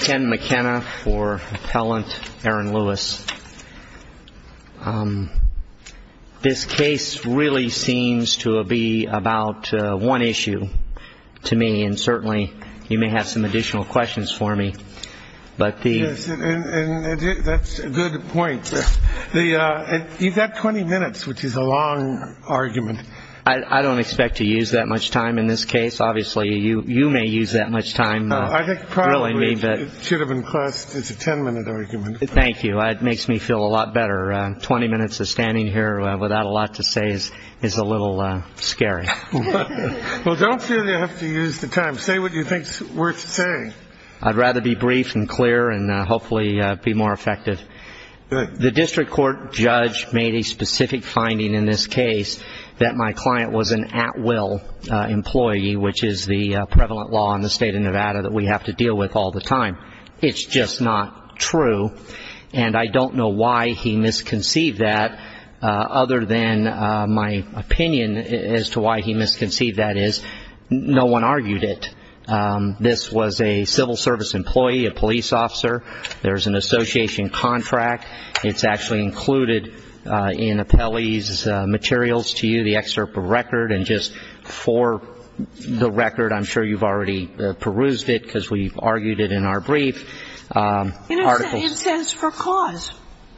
Ken McKenna for Appellant Aaron Lewis. This case really seems to be about one issue to me, and certainly you may have some additional questions for me. Yes, and that's a good point. You've got 20 minutes, which is a long argument. I don't expect to use that much time in this case. Obviously, you may use that much time. I think probably it should have been classed as a 10-minute argument. Thank you. It makes me feel a lot better. Twenty minutes of standing here without a lot to say is a little scary. Well, don't feel you have to use the time. Say what you think is worth saying. I'd rather be brief and clear and hopefully be more effective. The district court judge made a specific finding in this case that my client was an at-will employee, which is the prevalent law in the state of Nevada that we have to deal with all the time. It's just not true, and I don't know why he misconceived that, other than my opinion as to why he misconceived that is no one argued it. This was a civil service employee, a police officer. There's an association contract. It's actually included in appellee's materials to you, the excerpt of record, and just for the record, I'm sure you've already perused it because we've argued it in our brief. It says for cause.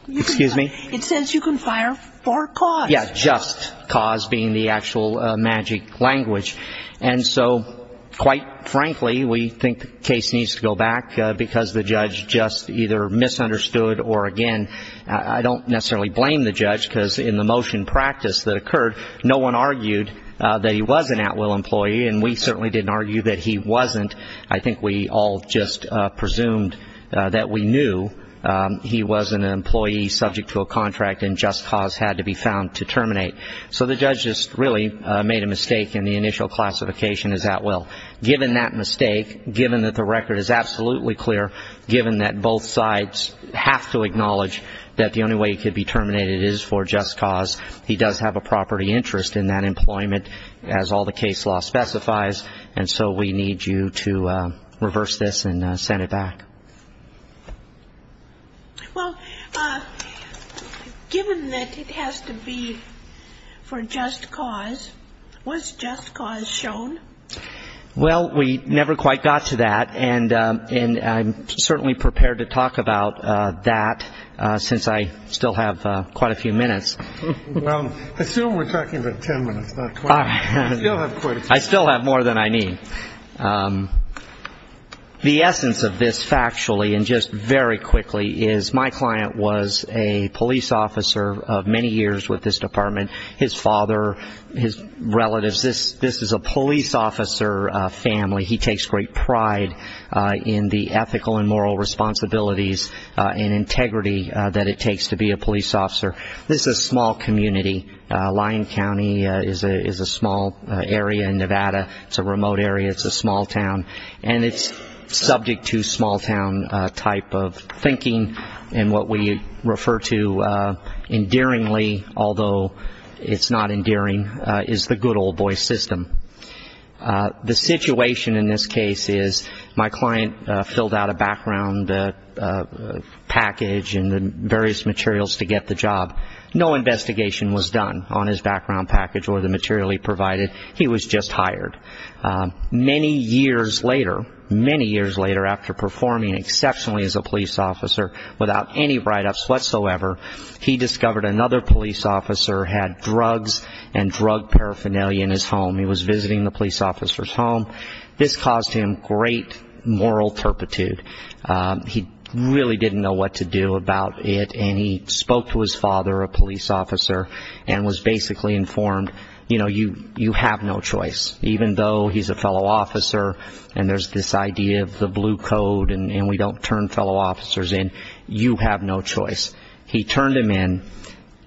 Excuse me? It says you can fire for cause. Yeah, just cause being the actual magic language. And so quite frankly, we think the case needs to go back because the judge just either misunderstood or, again, I don't necessarily blame the judge because in the motion practice that occurred, no one argued that he was an at-will employee, and we certainly didn't argue that he wasn't. I think we all just presumed that we knew he was an employee subject to a contract, and just cause had to be found to terminate. So the judge just really made a mistake in the initial classification as at-will. Given that mistake, given that the record is absolutely clear, given that both sides have to acknowledge that the only way he could be terminated is for just cause, he does have a property interest in that employment as all the case law specifies, and so we need you to reverse this and send it back. Well, given that it has to be for just cause, was just cause shown? Well, we never quite got to that, and I'm certainly prepared to talk about that since I still have quite a few minutes. Well, assume we're talking about 10 minutes, not 20. I still have more than I need. The essence of this factually and just very quickly is my client was a police officer of many years with this department. His father, his relatives, this is a police officer family. He takes great pride in the ethical and moral responsibilities and integrity that it takes to be a police officer. This is a small community. Lyon County is a small area in Nevada. It's a remote area. It's a small town, and it's subject to small town type of thinking, and what we refer to endearingly, although it's not endearing, is the good old boy system. The situation in this case is my client filled out a background package and various materials to get the job. No investigation was done on his background package or the material he provided. He was just hired. Many years later, many years later, after performing exceptionally as a police officer without any write-ups whatsoever, he discovered another police officer had drugs and drug paraphernalia in his home. He was visiting the police officer's home. This caused him great moral turpitude. He really didn't know what to do about it, and he spoke to his father, a police officer, and was basically informed, you know, you have no choice. Even though he's a fellow officer and there's this idea of the blue code and we don't turn fellow officers in, you have no choice. He turned him in.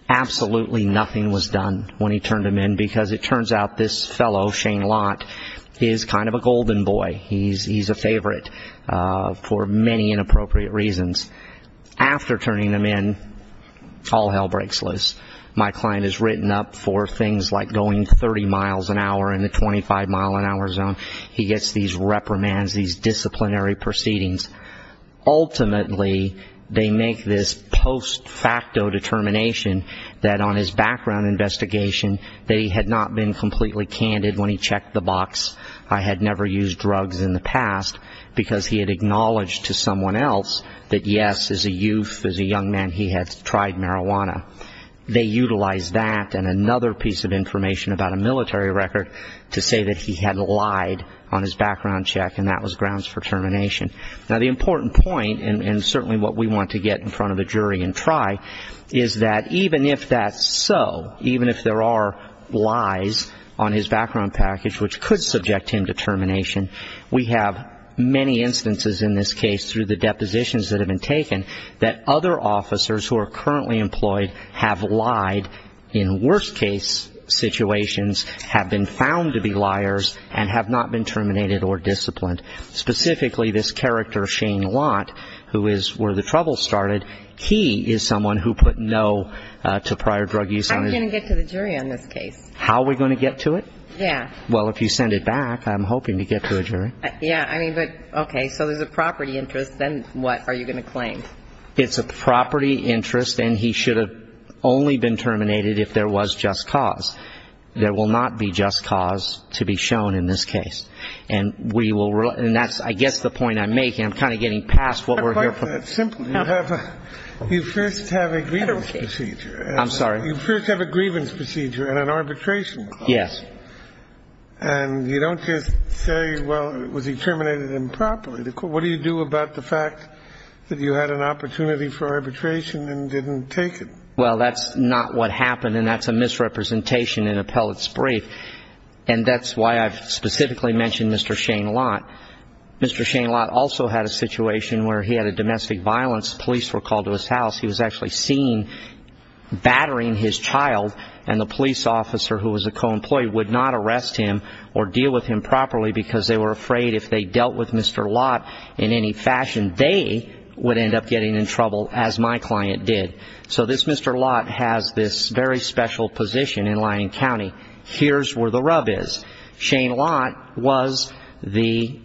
Absolutely nothing was done when he turned him in because it turns out this fellow, Shane Lott, is kind of a golden boy. He's a favorite for many inappropriate reasons. After turning him in, all hell breaks loose. My client is written up for things like going 30 miles an hour in the 25-mile-an-hour zone. He gets these reprimands, these disciplinary proceedings. Ultimately, they make this post-facto determination that on his background investigation that he had not been completely candid when he checked the box. I had never used drugs in the past because he had acknowledged to someone else that, yes, as a youth, as a young man, he had tried marijuana. They utilized that and another piece of information about a military record to say that he had lied on his background check, and that was grounds for termination. Now, the important point, and certainly what we want to get in front of a jury and try, is that even if that's so, even if there are lies on his background package which could subject him to termination, we have many instances in this case through the depositions that have been taken that other officers who are currently employed have lied in worst-case situations, have been found to be liars, and have not been terminated or disciplined. Specifically, this character, Shane Watt, who is where the trouble started, he is someone who put no to prior drug use. How are we going to get to the jury on this case? How are we going to get to it? Yeah. Well, if you send it back, I'm hoping to get to a jury. Yeah. I mean, but, okay, so there's a property interest. Then what are you going to claim? It's a property interest, and he should have only been terminated if there was just cause. There will not be just cause to be shown in this case. And that's, I guess, the point I'm making. I'm kind of getting past what we're here for. But simply, you first have a grievance procedure. I'm sorry? You first have a grievance procedure and an arbitration clause. Yes. And you don't just say, well, was he terminated improperly? What do you do about the fact that you had an opportunity for arbitration and didn't take it? Well, that's not what happened, and that's a misrepresentation in Appellate's brief. And that's why I've specifically mentioned Mr. Shane Lott. Mr. Shane Lott also had a situation where he had a domestic violence. Police were called to his house. He was actually seen battering his child, and the police officer, who was a co-employee, would not arrest him or deal with him properly because they were afraid if they dealt with Mr. Lott in any fashion, they would end up getting in trouble, as my client did. So this Mr. Lott has this very special position in Lyon County. Here's where the rub is. Shane Lott was the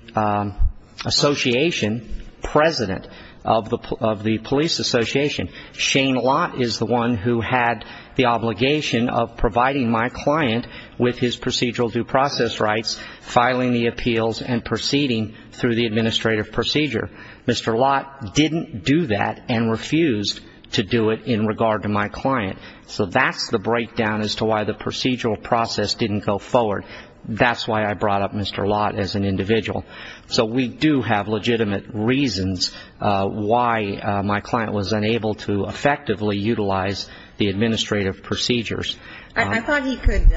association president of the police association. Shane Lott is the one who had the obligation of providing my client with his procedural due process rights, filing the appeals, and proceeding through the administrative procedure. Mr. Lott didn't do that and refused to do it in regard to my client. So that's the breakdown as to why the procedural process didn't go forward. That's why I brought up Mr. Lott as an individual. So we do have legitimate reasons why my client was unable to effectively utilize the administrative procedures. I thought he could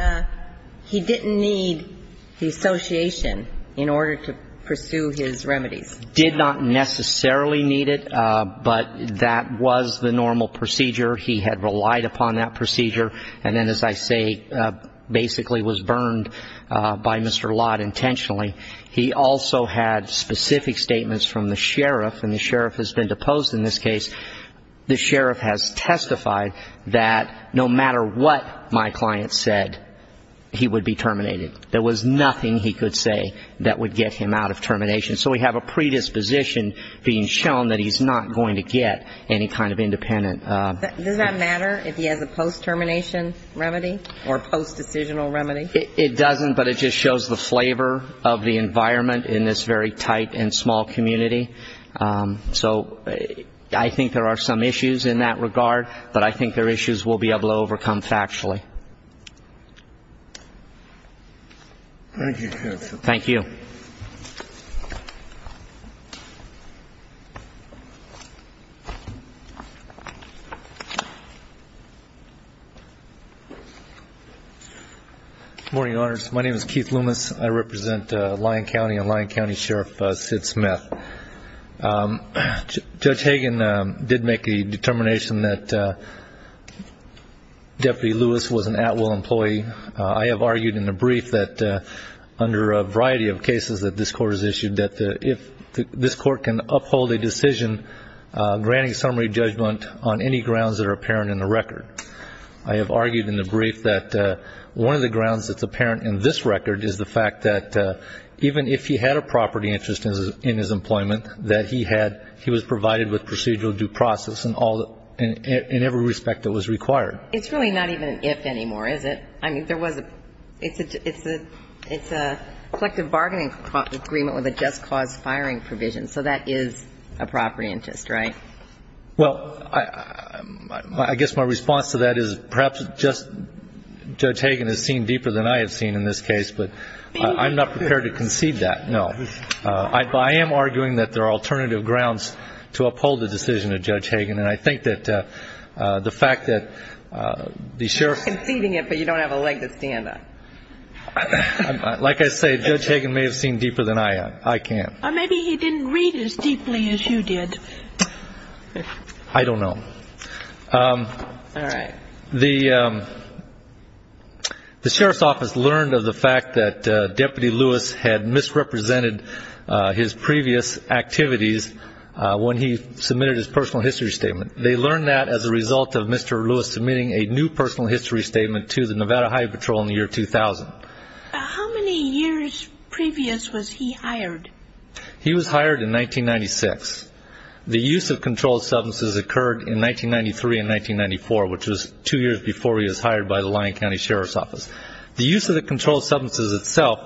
he didn't need the association in order to pursue his remedies. Did not necessarily need it, but that was the normal procedure. He had relied upon that procedure and then, as I say, basically was burned by Mr. Lott intentionally. He also had specific statements from the sheriff, and the sheriff has been deposed in this case. The sheriff has testified that no matter what my client said, he would be terminated. There was nothing he could say that would get him out of termination. So we have a predisposition being shown that he's not going to get any kind of independent. Does that matter if he has a post-termination remedy or post-decisional remedy? It doesn't, but it just shows the flavor of the environment in this very tight and small community. So I think there are some issues in that regard, but I think they're issues we'll be able to overcome factually. Thank you, counsel. Thank you. Thank you. Good morning, Your Honors. My name is Keith Loomis. I represent Lyon County and Lyon County Sheriff Sid Smith. Judge Hagan did make the determination that Deputy Lewis was an at-will employee. I have argued in the brief that under a variety of cases that this Court has issued, that if this Court can uphold a decision granting summary judgment on any grounds that are apparent in the record. I have argued in the brief that one of the grounds that's apparent in this record is the fact that even if he had a property interest in his employment, that he was provided with procedural due process in every respect that was required. It's really not even an if anymore, is it? I mean, it's a collective bargaining agreement with a just cause firing provision, so that is a property interest, right? Well, I guess my response to that is perhaps Judge Hagan has seen deeper than I have seen in this case, but I'm not prepared to concede that, no. I am arguing that there are alternative grounds to uphold the decision of Judge Hagan, and I think that the fact that the Sheriff's. You're conceding it, but you don't have a leg to stand on. Like I say, Judge Hagan may have seen deeper than I have. I can't. Or maybe he didn't read as deeply as you did. I don't know. All right. The Sheriff's Office learned of the fact that Deputy Lewis had misrepresented his previous activities when he submitted his personal history statement. They learned that as a result of Mr. Lewis submitting a new personal history statement to the Nevada Highway Patrol in the year 2000. How many years previous was he hired? He was hired in 1996. The use of controlled substances occurred in 1993 and 1994, which was two years before he was hired by the Lyon County Sheriff's Office. The use of the controlled substances itself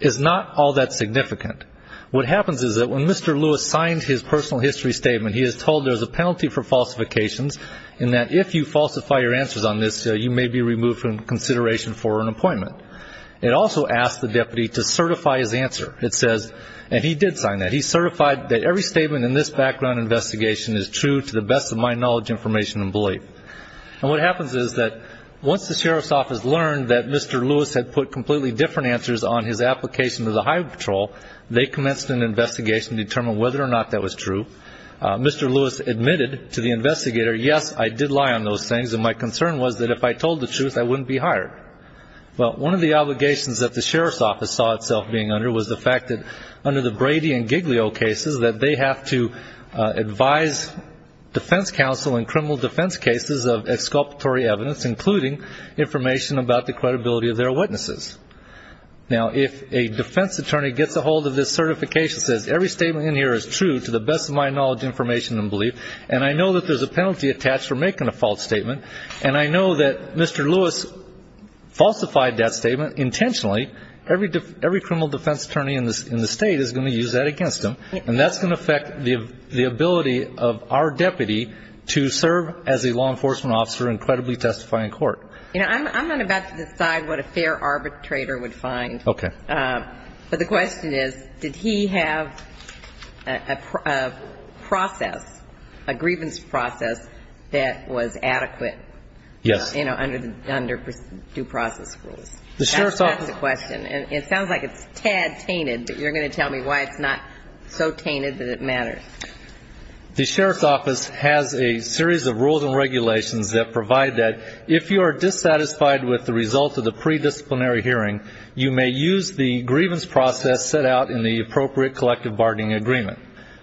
is not all that significant. What happens is that when Mr. Lewis signs his personal history statement, he is told there's a penalty for falsifications, and that if you falsify your answers on this, you may be removed from consideration for an appointment. It also asks the deputy to certify his answer. It says, and he did sign that, he certified that every statement in this background investigation is true to the best of my knowledge, information, and belief. And what happens is that once the Sheriff's Office learned that Mr. Lewis had put completely different answers on his application to the Highway Patrol, they commenced an investigation to determine whether or not that was true. Mr. Lewis admitted to the investigator, yes, I did lie on those things, and my concern was that if I told the truth, I wouldn't be hired. Well, one of the obligations that the Sheriff's Office saw itself being under was the fact that under the Brady and Giglio cases that they have to advise defense counsel in criminal defense cases of exculpatory evidence, including information about the credibility of their witnesses. Now, if a defense attorney gets a hold of this certification, says every statement in here is true to the best of my knowledge, information, and belief, and I know that there's a penalty attached for making a false statement, and I know that Mr. Lewis falsified that statement intentionally, every criminal defense attorney in the State is going to use that against him, and that's going to affect the ability of our deputy to serve as a law enforcement officer and credibly testify in court. You know, I'm not about to decide what a fair arbitrator would find. Okay. But the question is, did he have a process, a grievance process, that was adequate? Yes. You know, under due process rules. That's the question. And it sounds like it's a tad tainted, The Sheriff's Office has a series of rules and regulations that provide that if you are dissatisfied with the result of the pre-disciplinary hearing, you may use the grievance process set out in the appropriate collective bargaining agreement.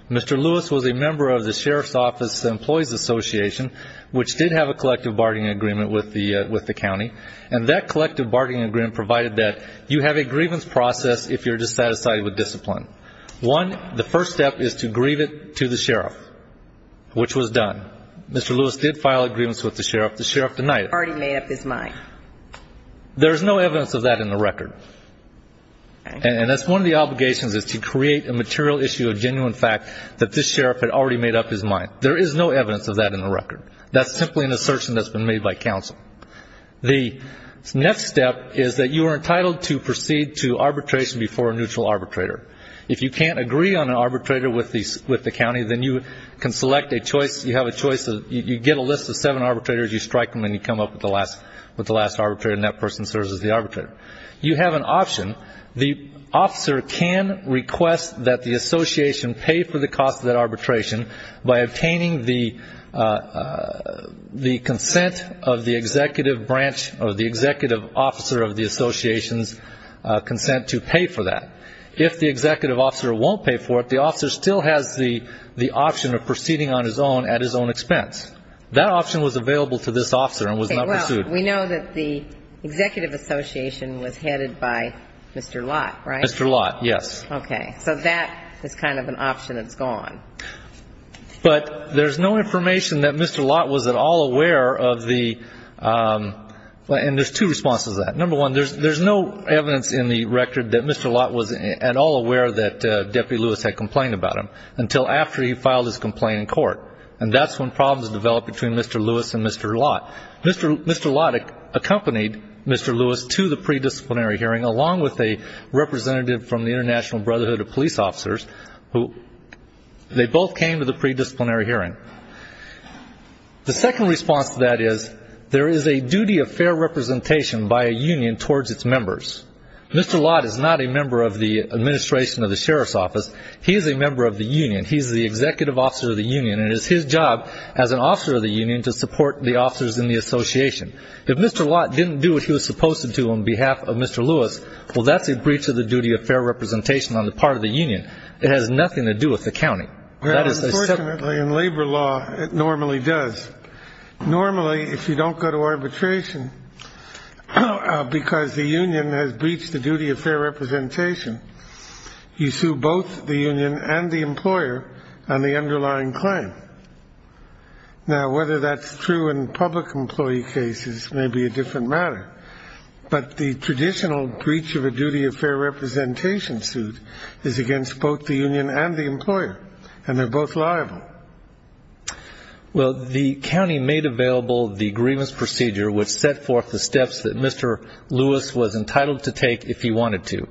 Mr. Lewis was a member of the Sheriff's Office Employees Association, which did have a collective bargaining agreement with the county, and that collective bargaining agreement provided that you have a grievance process if you're dissatisfied with discipline. One, the first step is to grieve it to the sheriff, which was done. Mr. Lewis did file a grievance with the sheriff. The sheriff denied it. Already made up his mind. There's no evidence of that in the record. And that's one of the obligations is to create a material issue of genuine fact that this sheriff had already made up his mind. There is no evidence of that in the record. That's simply an assertion that's been made by counsel. The next step is that you are entitled to proceed to arbitration before a neutral arbitrator. If you can't agree on an arbitrator with the county, then you can select a choice. You have a choice. You get a list of seven arbitrators. You strike them, and you come up with the last arbitrator, and that person serves as the arbitrator. You have an option. The officer can request that the association pay for the cost of that arbitration by obtaining the consent of the executive branch or the executive officer of the association's consent to pay for that. If the executive officer won't pay for it, the officer still has the option of proceeding on his own at his own expense. That option was available to this officer and was not pursued. Okay, well, we know that the executive association was headed by Mr. Lott, right? Mr. Lott, yes. Okay, so that is kind of an option that's gone. But there's no information that Mr. Lott was at all aware of the ñ and there's two responses to that. Number one, there's no evidence in the record that Mr. Lott was at all aware that Deputy Lewis had complained about him until after he filed his complaint in court. And that's when problems developed between Mr. Lewis and Mr. Lott. Mr. Lott accompanied Mr. Lewis to the pre-disciplinary hearing, along with a representative from the International Brotherhood of Police Officers. They both came to the pre-disciplinary hearing. The second response to that is there is a duty of fair representation by a union towards its members. Mr. Lott is not a member of the administration of the sheriff's office. He is a member of the union. He is the executive officer of the union, and it is his job as an officer of the union to support the officers in the association. If Mr. Lott didn't do what he was supposed to do on behalf of Mr. Lewis, well, that's a breach of the duty of fair representation on the part of the union. It has nothing to do with the county. Well, unfortunately, in labor law, it normally does. Normally, if you don't go to arbitration because the union has breached the duty of fair representation, you sue both the union and the employer on the underlying claim. Now, whether that's true in public employee cases may be a different matter, but the traditional breach of a duty of fair representation suit is against both the union and the employer, and they're both liable. Well, the county made available the grievance procedure, which set forth the steps that Mr. Lewis was entitled to take if he wanted to.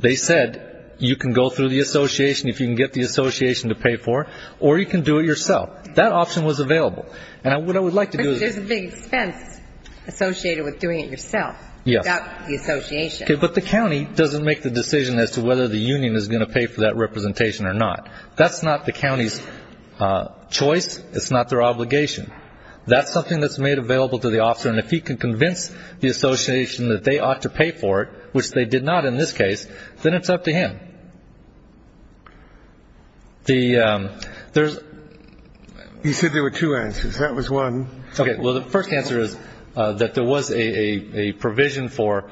They said you can go through the association if you can get the association to pay for it, or you can do it yourself. That option was available. And what I would like to do is- But there's a big expense associated with doing it yourself without the association. But the county doesn't make the decision as to whether the union is going to pay for that representation or not. That's not the county's choice. It's not their obligation. That's something that's made available to the officer, and if he can convince the association that they ought to pay for it, which they did not in this case, then it's up to him. Okay. There's- You said there were two answers. That was one. Okay. Well, the first answer is that there was a provision for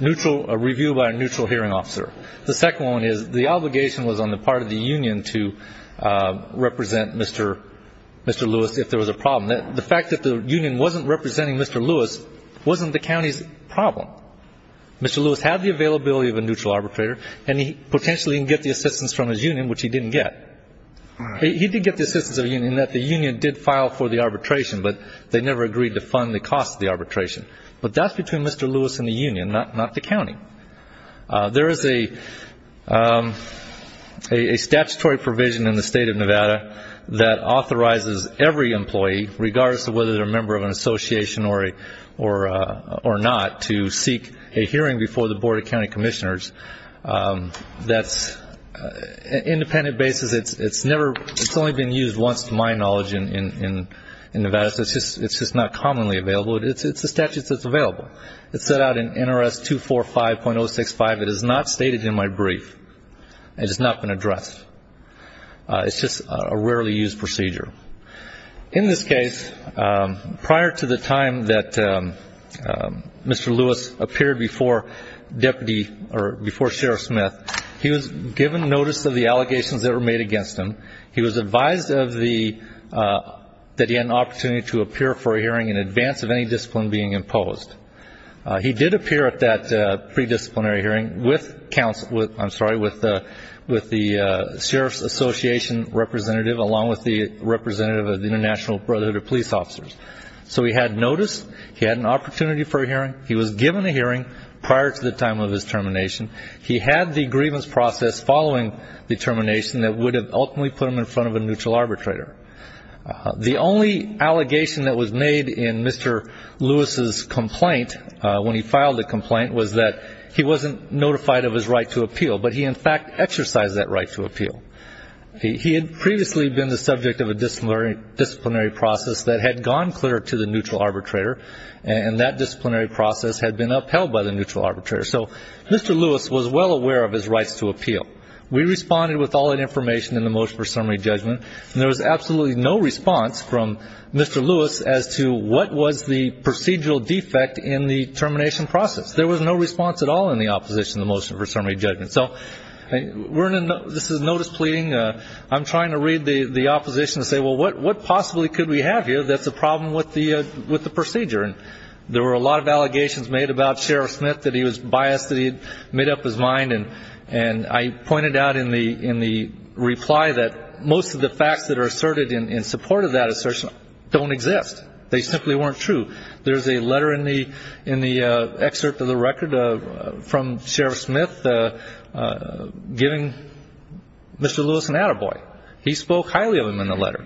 neutral review by a neutral hearing officer. The second one is the obligation was on the part of the union to represent Mr. Lewis if there was a problem. The fact that the union wasn't representing Mr. Lewis wasn't the county's problem. Mr. Lewis had the availability of a neutral arbitrator, and he potentially didn't get the assistance from his union, which he didn't get. He did get the assistance of the union in that the union did file for the arbitration, but they never agreed to fund the cost of the arbitration. But that's between Mr. Lewis and the union, not the county. There is a statutory provision in the State of Nevada that authorizes every employee, regardless of whether they're a member of an association or not, to seek a hearing before the Board of County Commissioners. That's an independent basis. It's only been used once, to my knowledge, in Nevada, so it's just not commonly available. It's a statute that's available. It's set out in NRS 245.065. It is not stated in my brief. It has not been addressed. It's just a rarely used procedure. In this case, prior to the time that Mr. Lewis appeared before Sheriff Smith, he was given notice of the allegations that were made against him. He was advised that he had an opportunity to appear for a hearing in advance of any discipline being imposed. He did appear at that pre-disciplinary hearing with the Sheriff's Association representative, along with the representative of the International Brotherhood of Police Officers. So he had notice. He had an opportunity for a hearing. He was given a hearing prior to the time of his termination. He had the grievance process following the termination that would have ultimately put him in front of a neutral arbitrator. The only allegation that was made in Mr. Lewis's complaint, when he filed the complaint, was that he wasn't notified of his right to appeal, but he, in fact, exercised that right to appeal. He had previously been the subject of a disciplinary process that had gone clear to the neutral arbitrator, and that disciplinary process had been upheld by the neutral arbitrator. So Mr. Lewis was well aware of his rights to appeal. We responded with all that information in the motion for summary judgment, and there was absolutely no response from Mr. Lewis as to what was the procedural defect in the termination process. There was no response at all in the opposition to the motion for summary judgment. So this is notice pleading. I'm trying to read the opposition and say, well, what possibly could we have here that's a problem with the procedure? And there were a lot of allegations made about Sheriff Smith that he was biased, that he had made up his mind. And I pointed out in the reply that most of the facts that are asserted in support of that assertion don't exist. They simply weren't true. There's a letter in the excerpt of the record from Sheriff Smith giving Mr. Lewis an attaboy. He spoke highly of him in the letter.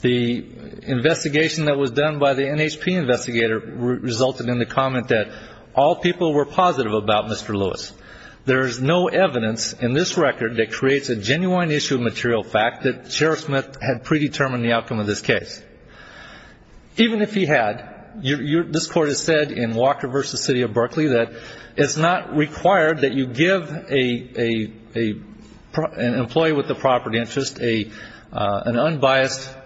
The investigation that was done by the NHP investigator resulted in the comment that all people were positive about Mr. Lewis. There is no evidence in this record that creates a genuine issue of material fact that Sheriff Smith had predetermined the outcome of this case. Even if he had, this Court has said in Walker v. City of Berkeley that it's not required that you give an employee with a property interest an unbiased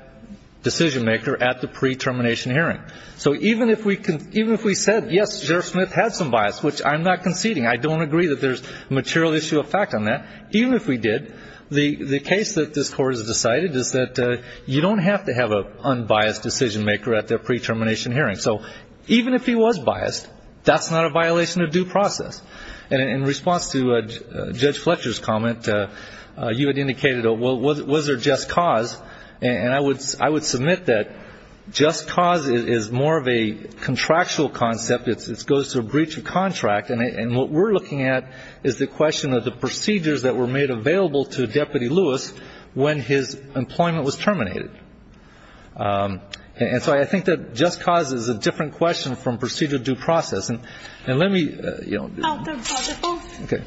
decision-maker at the pre-termination hearing. So even if we said, yes, Sheriff Smith had some bias, which I'm not conceding. I don't agree that there's material issue of fact on that. Even if we did, the case that this Court has decided is that you don't have to have an unbiased decision-maker at the pre-termination hearing. So even if he was biased, that's not a violation of due process. And in response to Judge Fletcher's comment, you had indicated, well, was there just cause? And I would submit that just cause is more of a contractual concept. It goes through a breach of contract. And what we're looking at is the question of the procedures that were made available to Deputy Lewis when his employment was terminated. And so I think that just cause is a different question from procedure due process. And let me, you know. Okay.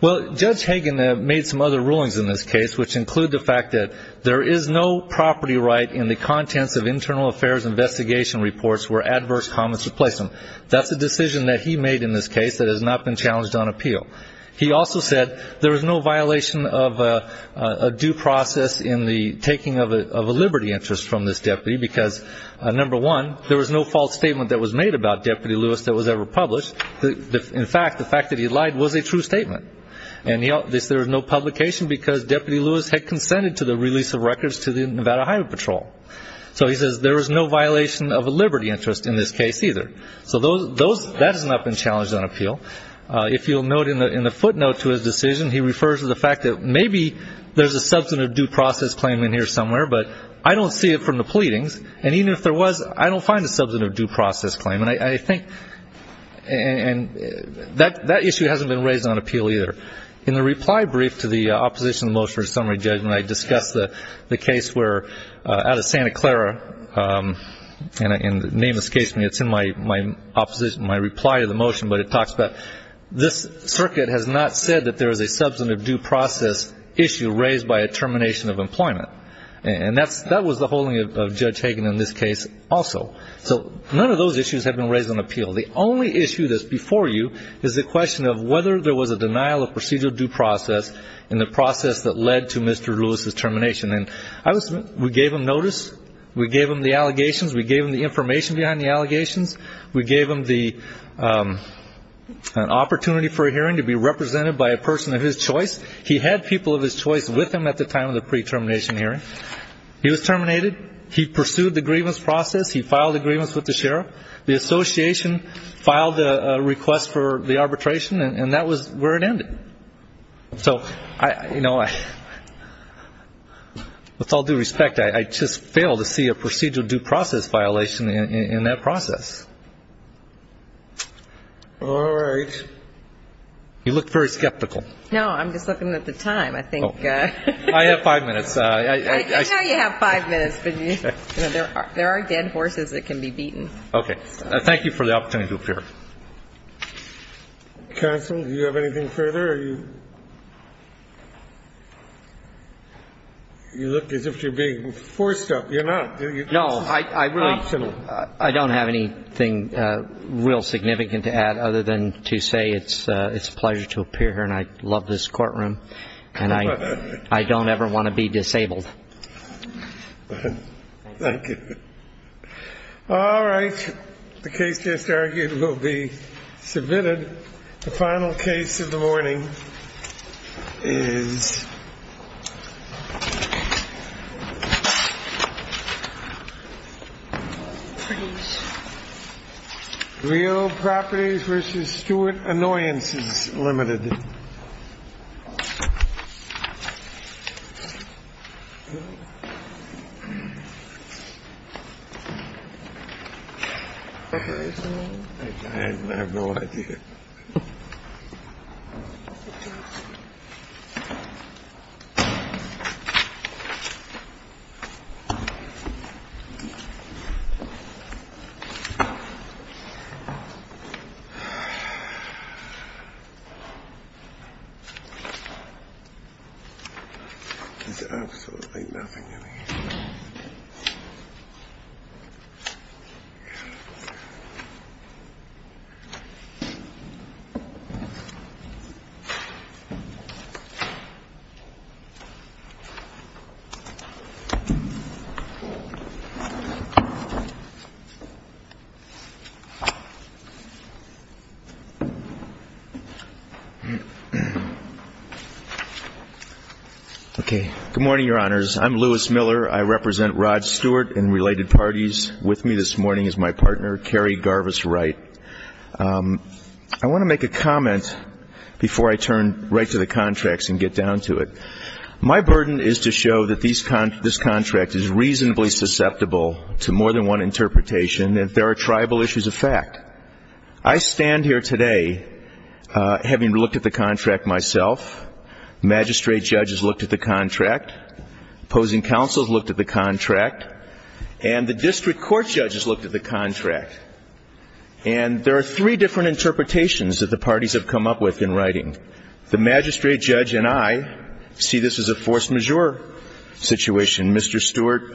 Well, Judge Hagan made some other rulings in this case, which include the fact that there is no property right in the contents of internal affairs investigation reports where adverse comments are placed on them. That's a decision that he made in this case that has not been challenged on appeal. He also said there is no violation of due process in the taking of a liberty interest from this deputy because, number one, there was no false statement that was made about Deputy Lewis that was ever published. In fact, the fact that he lied was a true statement. And he said there was no publication because Deputy Lewis had consented to the release of records to the Nevada Highway Patrol. So he says there is no violation of a liberty interest in this case either. So that has not been challenged on appeal. If you'll note in the footnote to his decision, he refers to the fact that maybe there's a substantive due process claim in here somewhere, but I don't see it from the pleadings. And even if there was, I don't find a substantive due process claim. And I think that issue hasn't been raised on appeal either. In the reply brief to the opposition motion or summary judgment, I discussed the case where out of Santa Clara, and the name escapes me, it's in my reply to the motion, but it talks about this circuit has not said that there is a substantive due process issue raised by a termination of employment. And that was the holding of Judge Hagen in this case also. So none of those issues have been raised on appeal. The only issue that's before you is the question of whether there was a denial of procedural due process in the process that led to Mr. Lewis's termination. And we gave him notice. We gave him the allegations. We gave him the information behind the allegations. We gave him the opportunity for a hearing to be represented by a person of his choice. He had people of his choice with him at the time of the pre-termination hearing. He was terminated. He pursued the grievance process. He filed a grievance with the sheriff. The association filed a request for the arbitration, and that was where it ended. So, you know, with all due respect, I just failed to see a procedural due process violation in that process. All right. You look very skeptical. No, I'm just looking at the time. I think ---- I have five minutes. I know you have five minutes, but there are dead horses that can be beaten. Okay. Thank you for the opportunity to appear. Counsel, do you have anything further? You look as if you're being forced up. You're not. No, I don't have anything real significant to add other than to say it's a pleasure to appear here, and I love this courtroom. And I don't ever want to be disabled. Thank you. All right. The case just argued will be submitted. The final case of the morning is real properties versus Stewart annoyances limited. I have no idea. I have no idea. Okay. Good morning, Your Honors. I'm Louis Miller. I represent Rod Stewart and related parties. With me this morning is my partner, Carrie Garvis Wright. I want to make a comment before I turn right to the contracts and get down to it. My burden is to show that this contract is reasonably susceptible to more than one interpretation, and there are tribal issues of fact. I stand here today having looked at the contract myself. Magistrate judges looked at the contract. Opposing counsels looked at the contract. And the district court judges looked at the contract. And there are three different interpretations that the parties have come up with in writing. The magistrate judge and I see this as a force majeure situation. Mr. Stewart.